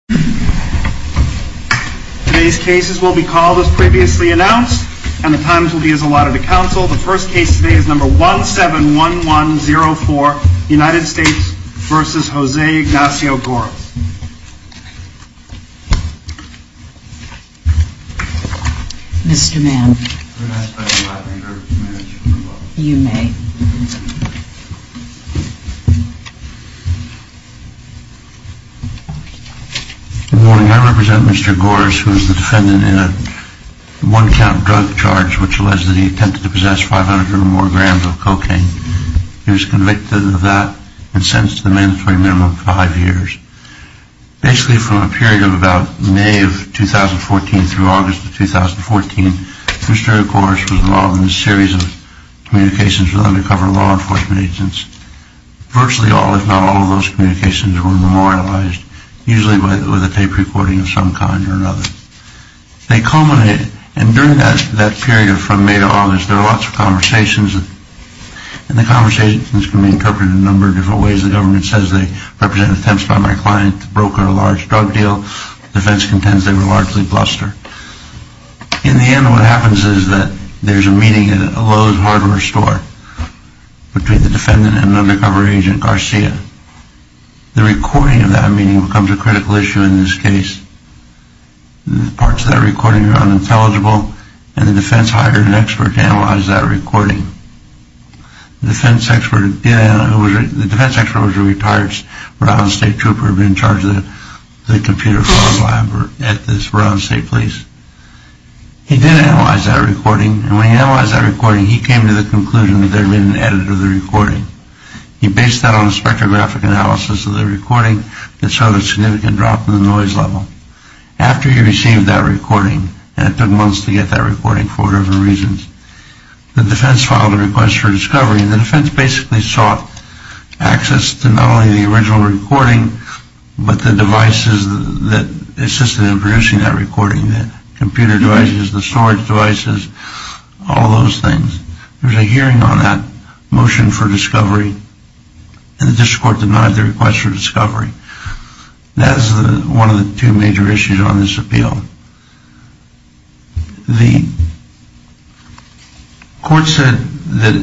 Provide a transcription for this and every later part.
. Today's cases will be called as previously announced and the times will be as allotted to council. The first case today is number 171104 United States v. Jose Ignacio Goris. Mr. Mann. May I ask the Black and Grish to manage the room while I do this? You may. Good morning. I represent Mr. Goris who is the defendant in a one count drug charge which alleged that he attempted to possess 500 or more grams of cocaine. He was convicted of that and sentenced to the mandatory minimum of five years. Basically from a period of about May of 2014 through August of 2014 Mr. Goris was involved in a series of communications with undercover law enforcement agents. Virtually all if not all of those communications were memorialized usually with a tape recording of some kind or another. They culminated and during that period from May to August there were lots of conversations. The conversations can be interpreted in a number of different ways. The government says they represent attempts by my client to broker a large drug deal. Defense contends they were largely bluster. In the end what happens is that there is a meeting at a Lowe's hardware store between the defendant and an undercover agent Garcia. The recording of that meeting becomes a critical issue in this case. The parts of that recording are unintelligible and the defense hired an expert to analyze that recording. The defense expert was a retired Rhode Island State Trooper in charge of the computer fraud lab at the Rhode Island State Police. He did analyze that recording and when he analyzed that recording he came to the conclusion that there had been an edit of the recording. He based that on a spectrographic analysis of the recording that showed a significant drop in the noise level. After he received that recording and it took months to get that recording for whatever reasons, the defense filed a request for discovery and the defense basically sought access to not only the original recording but the devices that assisted in producing that recording, the computer devices, the storage devices, all those things. There was a hearing on that motion for discovery and the district court denied the request for discovery. That is one of the two major issues on this appeal. The court said that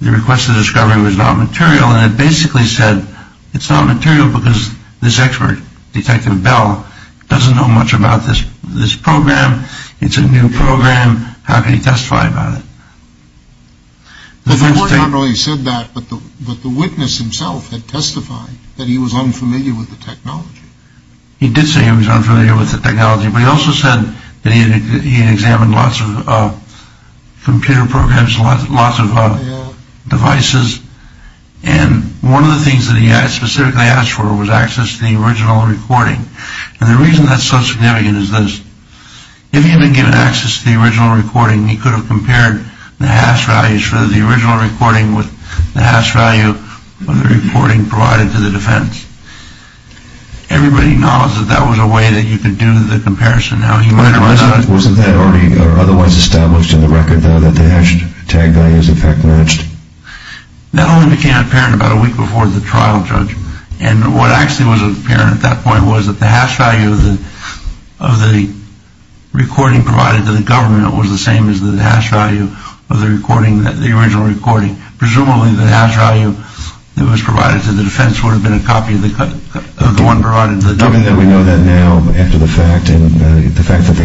the request for discovery was not material and it basically said it's not material because this expert, Detective Bell, doesn't know much about this program, it's a new program, how can he testify about it? The court not only said that but the witness himself had testified that he was unfamiliar with the technology. He did say he was unfamiliar with the technology but he also said that he had examined lots of computer programs, lots of devices and one of the things that he specifically asked for was access to the original recording. And the reason that's so significant is this. If he had been given access to the original recording, he could have compared the hash values for the original recording with the hash value of the recording provided to the defense. Everybody knows that that was a way that you could do the comparison. Wasn't that already or otherwise established in the record though that the hash tag values in fact matched? That only became apparent about a week before the trial, Judge. And what actually was apparent at that point was that the hash value of the recording provided to the government was the same as the hash value of the original recording. Presumably the hash value that was provided to the defense would have been a copy of the one provided to the government. Now that we know that now after the fact and the fact that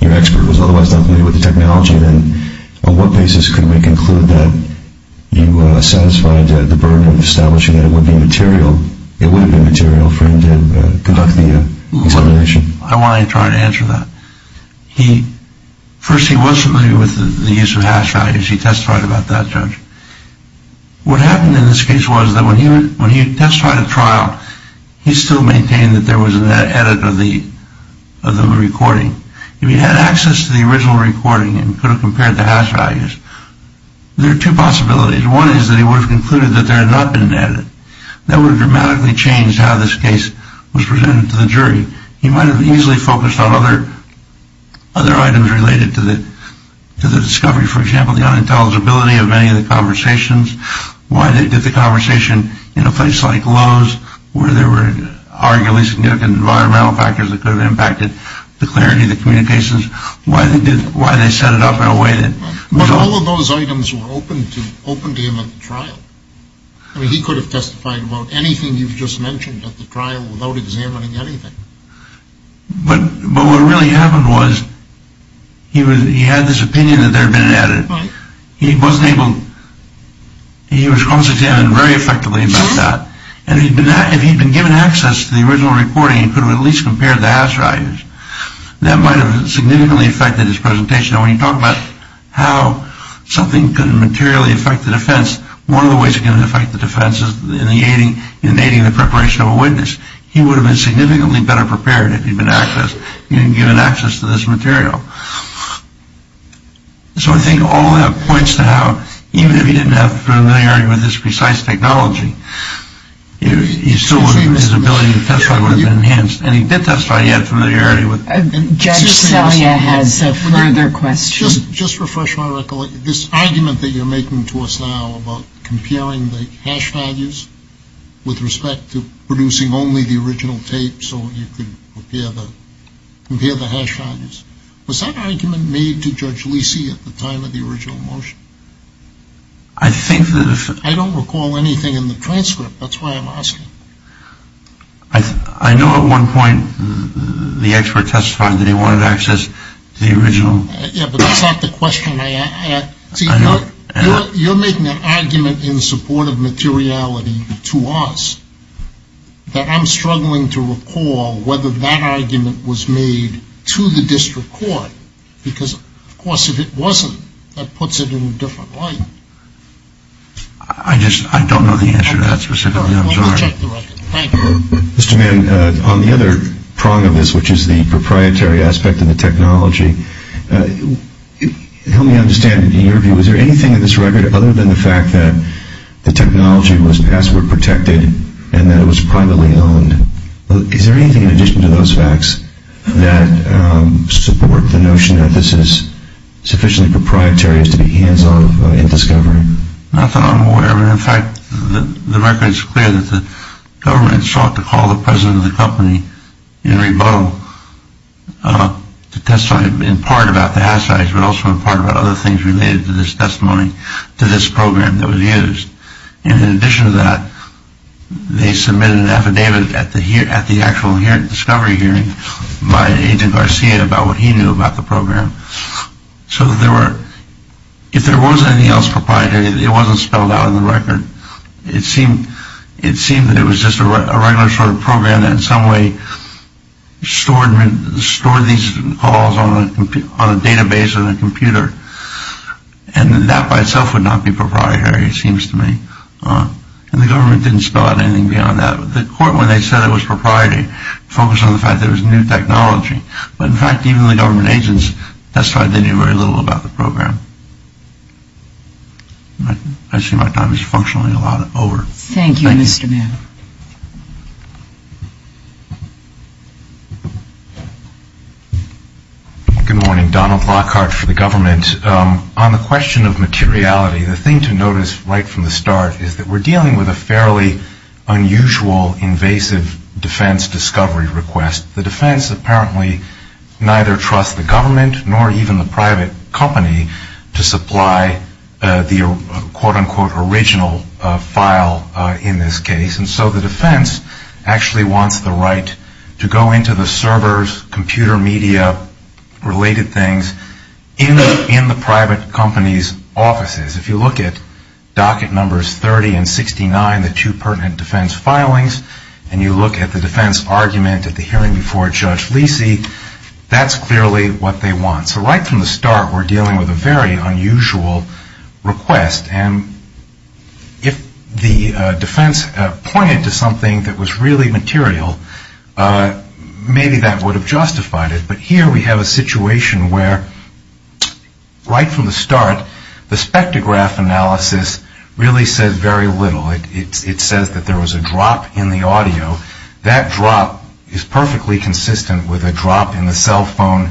your expert was otherwise not familiar with the technology, then on what basis could we conclude that you satisfied the burden of establishing that it would be material, it would have been material for him to conduct the examination? I want to try to answer that. First he was familiar with the use of hash values. He testified about that, Judge. What happened in this case was that when he testified at trial, he still maintained that there was an edit of the recording. If he had access to the original recording and could have compared the hash values, there are two possibilities. One is that he would have concluded that there had not been an edit. That would have dramatically changed how this case was presented to the jury. He might have easily focused on other items related to the discovery. For example, the unintelligibility of any of the conversations. Why they did the conversation in a place like Lowe's where there were arguably significant environmental factors that could have impacted the clarity of the communications. Why they set it up in a way that... But all of those items were open to him at the trial. I mean he could have testified about anything you've just mentioned at the trial without examining anything. But what really happened was he had this opinion that there had been an edit. He wasn't able... He was cross-examined very effectively about that. If he had been given access to the original recording, he could have at least compared the hash values. That might have significantly affected his presentation. When you talk about how something can materially affect the defense, one of the ways it can affect the defense is in aiding the preparation of a witness. He would have been significantly better prepared if he'd been given access to this material. So I think all that points to how even if he didn't have familiarity with this precise technology, his ability to testify would have been enhanced. And he did testify he had familiarity with... Judge Selye has a further question. Just to refresh my recollection, this argument that you're making to us now about comparing the hash values with respect to producing only the original tape so you could compare the hash values, was that argument made to Judge Lisi at the time of the original motion? I think that... I don't recall anything in the transcript. That's why I'm asking. I know at one point the expert testified that he wanted access to the original... Yeah, but that's not the question I asked. I know. You're making an argument in support of materiality to us that I'm struggling to recall whether that argument was made to the district court because, of course, if it wasn't, that puts it in a different light. I just don't know the answer to that specifically. I'm sorry. Let me check the record. Thank you. Mr. Mann, on the other prong of this, which is the proprietary aspect of the technology, help me understand, in your view, was there anything in this record other than the fact that the technology was password protected and that it was privately owned? Is there anything in addition to those facts that support the notion that this is sufficiently proprietary as to be hands-off in discovery? Not that I'm aware of. In fact, the record is clear that the government sought to call the president of the company, Henry Boe, to testify in part about the hash tags but also in part about other things related to this testimony, to this program that was used. And in addition to that, they submitted an affidavit at the actual discovery hearing by Agent Garcia about what he knew about the program. So if there was anything else proprietary, it wasn't spelled out in the record. It seemed that it was just a regular sort of program that in some way stored these calls on a database on a computer. And that by itself would not be proprietary, it seems to me. And the government didn't spell out anything beyond that. The court, when they said it was proprietary, focused on the fact that it was new technology. But, in fact, even the government agents testified they knew very little about the program. I see my time is functionally a lot over. Thank you, Mr. Mayor. Good morning. Donald Lockhart for the government. On the question of materiality, the thing to notice right from the start is that we're dealing with a fairly unusual invasive defense discovery request. The defense apparently neither trusts the government nor even the private company to supply the quote-unquote original file in this case. And so the defense actually wants the right to go into the servers, computer media, related things in the private company's offices. If you look at docket numbers 30 and 69, the two pertinent defense filings, and you look at the defense argument at the hearing before Judge Lisi, that's clearly what they want. So right from the start we're dealing with a very unusual request. And if the defense pointed to something that was really material, maybe that would have justified it. But here we have a situation where right from the start the spectrograph analysis really says very little. It says that there was a drop in the audio. That drop is perfectly consistent with a drop in the cell phone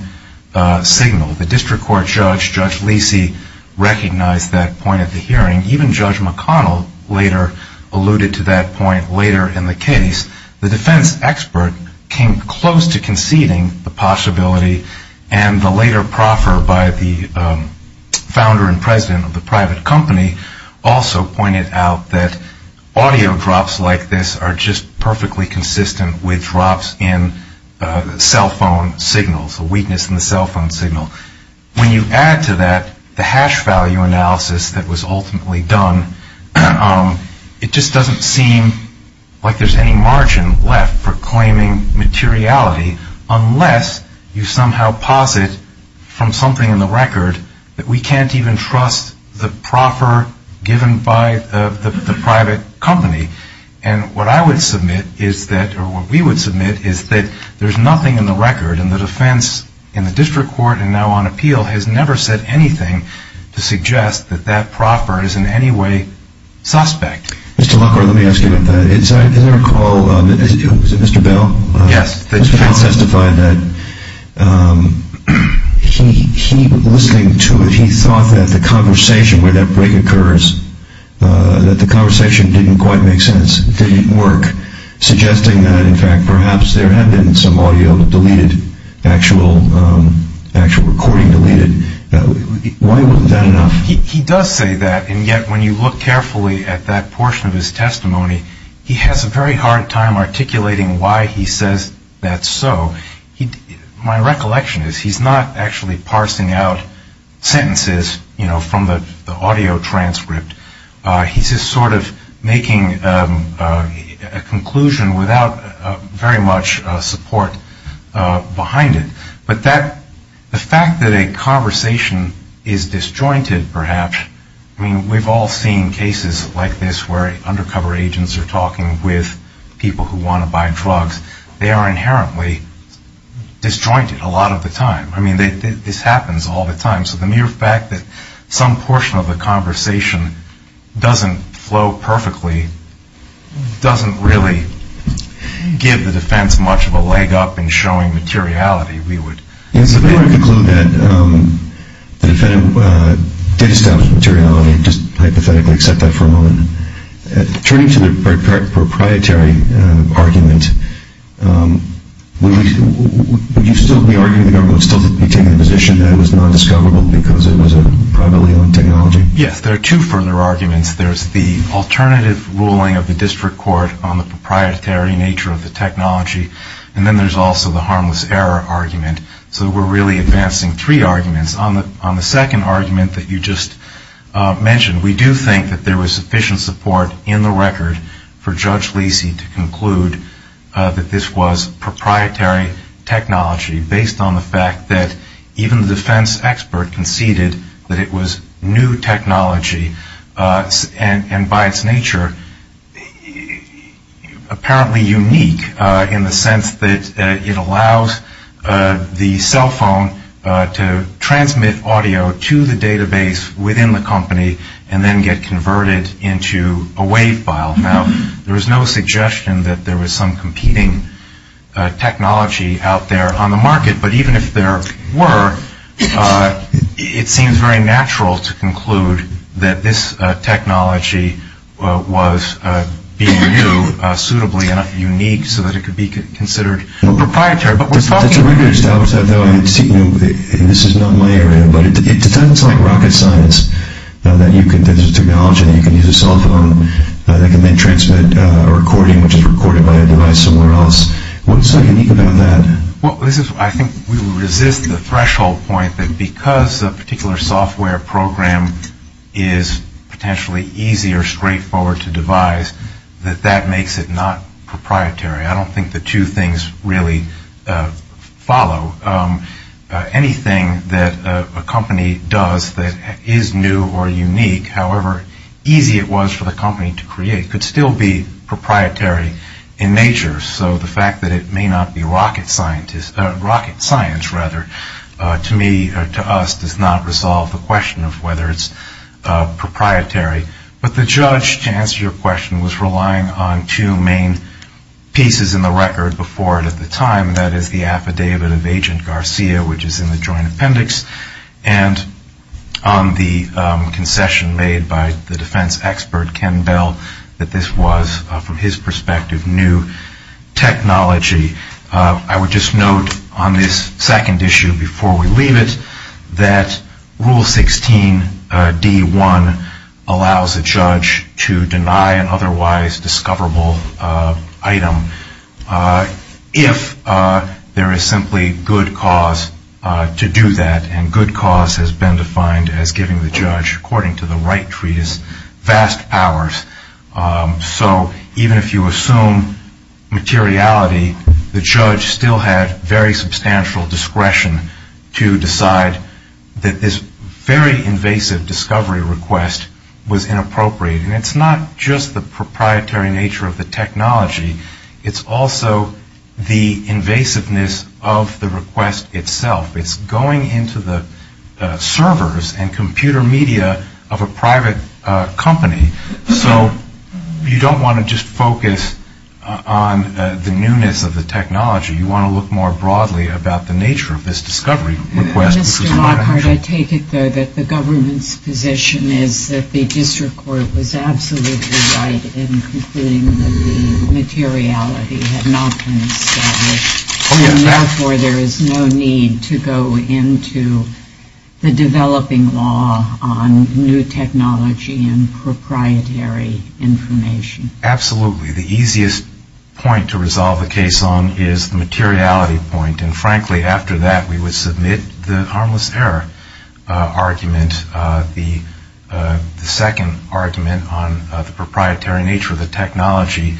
signal. The district court judge, Judge Lisi, recognized that point at the hearing. Even Judge McConnell later alluded to that point later in the case. The defense expert came close to conceding the possibility, and the later proffer by the founder and president of the private company also pointed out that audio drops like this are just perfectly consistent with drops in cell phone signals, a weakness in the cell phone signal. When you add to that the hash value analysis that was ultimately done, it just doesn't seem like there's any margin left for claiming materiality unless you somehow posit from something in the record that we can't even trust the proffer given by the private company. And what I would submit is that, or what we would submit, is that there's nothing in the record, and the defense in the district court and now on appeal has never said anything to suggest that that proffer is in any way suspect. Mr. Lockhart, let me ask you about that. Is there a call, is it Mr. Bell? Yes. Mr. Bell testified that he, listening to it, he thought that the conversation where that break occurs, that the conversation didn't quite make sense, didn't work, suggesting that in fact perhaps there had been some audio deleted, actual recording deleted. Why wasn't that enough? He does say that, and yet when you look carefully at that portion of his testimony, he has a very hard time articulating why he says that's so. My recollection is he's not actually parsing out sentences, you know, from the audio transcript. He's just sort of making a conclusion without very much support behind it. But the fact that a conversation is disjointed perhaps, I mean, we've all seen cases like this where undercover agents are talking with people who want to buy drugs. They are inherently disjointed a lot of the time. I mean, this happens all the time. So the mere fact that some portion of the conversation doesn't flow perfectly doesn't really give the defense much of a leg up in showing materiality. If we were to conclude that the defendant did establish materiality, just hypothetically accept that for a moment, turning to the proprietary argument, would you still be arguing that the government still didn't take the position that it was non-discoverable because it was a privately owned technology? Yes, there are two further arguments. There's the alternative ruling of the district court on the proprietary nature of the technology, and then there's also the harmless error argument. So we're really advancing three arguments. On the second argument that you just mentioned, we do think that there was sufficient support in the record for Judge Leasy to conclude that this was proprietary technology based on the fact that even the defense expert conceded that it was new technology and by its nature apparently unique in the sense that it allows the cell phone to transmit audio to the database within the company and then get converted into a wave file. Now, there is no suggestion that there was some competing technology out there on the market, but even if there were, it seems very natural to conclude that this technology was being viewed suitably and unique so that it could be considered proprietary. But we're talking about... That's a rigorous doubt, though, and this is not my area, but it sounds like rocket science that there's a technology that you can use a cell phone that can then transmit a recording which is recorded by a device somewhere else. What's so unique about that? Well, I think we would resist the threshold point that because a particular software program is potentially easy or straightforward to devise, that that makes it not proprietary. I don't think the two things really follow. Anything that a company does that is new or unique, however easy it was for the company to create, could still be proprietary in nature. So the fact that it may not be rocket science, rather, to me or to us, does not resolve the question of whether it's proprietary. But the judge, to answer your question, was relying on two main pieces in the record before it at the time, and that is the affidavit of Agent Garcia, which is in the joint appendix, and on the concession made by the defense expert, Ken Bell, that this was, from his perspective, new technology. I would just note on this second issue before we leave it, that Rule 16 D1 allows a judge to deny an otherwise discoverable item if there is simply good cause to do that, and good cause has been defined as giving the judge, according to the Wright Treatise, vast powers. So even if you assume materiality, the judge still had very substantial discretion to decide that this very invasive discovery request was inappropriate. And it's not just the proprietary nature of the technology. It's also the invasiveness of the request itself. It's going into the servers and computer media of a private company. So you don't want to just focus on the newness of the technology. You want to look more broadly about the nature of this discovery request. Mr. Lockhart, I take it, though, that the government's position is that the district court was absolutely right in concluding that the materiality had not been established, and therefore there is no need to go into the developing law on new technology and proprietary information. Absolutely. The easiest point to resolve the case on is the materiality point, and frankly after that we would submit the harmless error argument. The second argument on the proprietary nature of the technology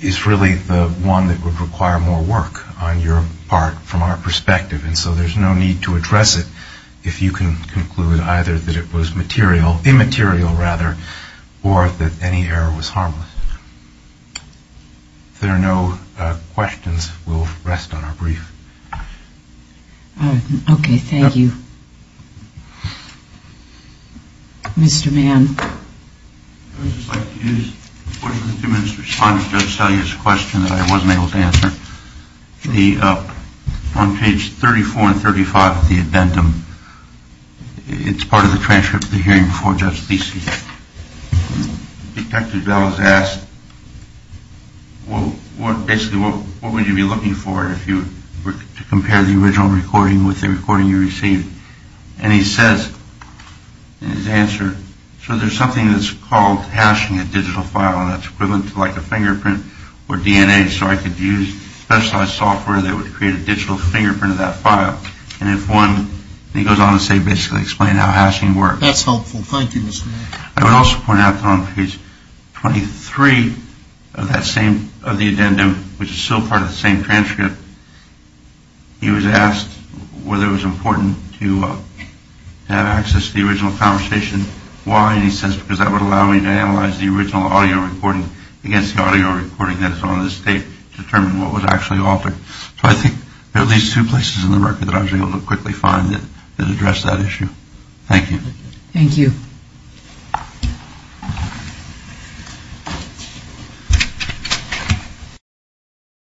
is really the one that would require more work on your part from our perspective, and so there's no need to address it if you can conclude either that it was immaterial or that any error was harmless. If there are no questions, we'll rest on our brief. Okay, thank you. Mr. Mann. I would just like to use a portion of the two minutes to respond to Judge Selye's question that I wasn't able to answer. On page 34 and 35 of the addendum, it's part of the transcript of the hearing before Judge Biese. Detective Bell has asked basically what would you be looking for if you were to compare the original recording with the recording you received, and he says in his answer, so there's something that's called hashing a digital file, and that's equivalent to like a fingerprint or DNA, so I could use specialized software that would create a digital fingerprint of that file, and if one, and he goes on to say basically explain how hashing works. That's helpful. Thank you, Mr. Mann. I would also point out that on page 23 of the addendum, which is still part of the same transcript, he was asked whether it was important to have access to the original conversation. Why? And he says because that would allow me to analyze the original audio recording against the audio recording that is on the state to determine what was actually altered. So I think there are at least two places in the record that I was able to quickly find that addressed that issue. Thank you. Thank you.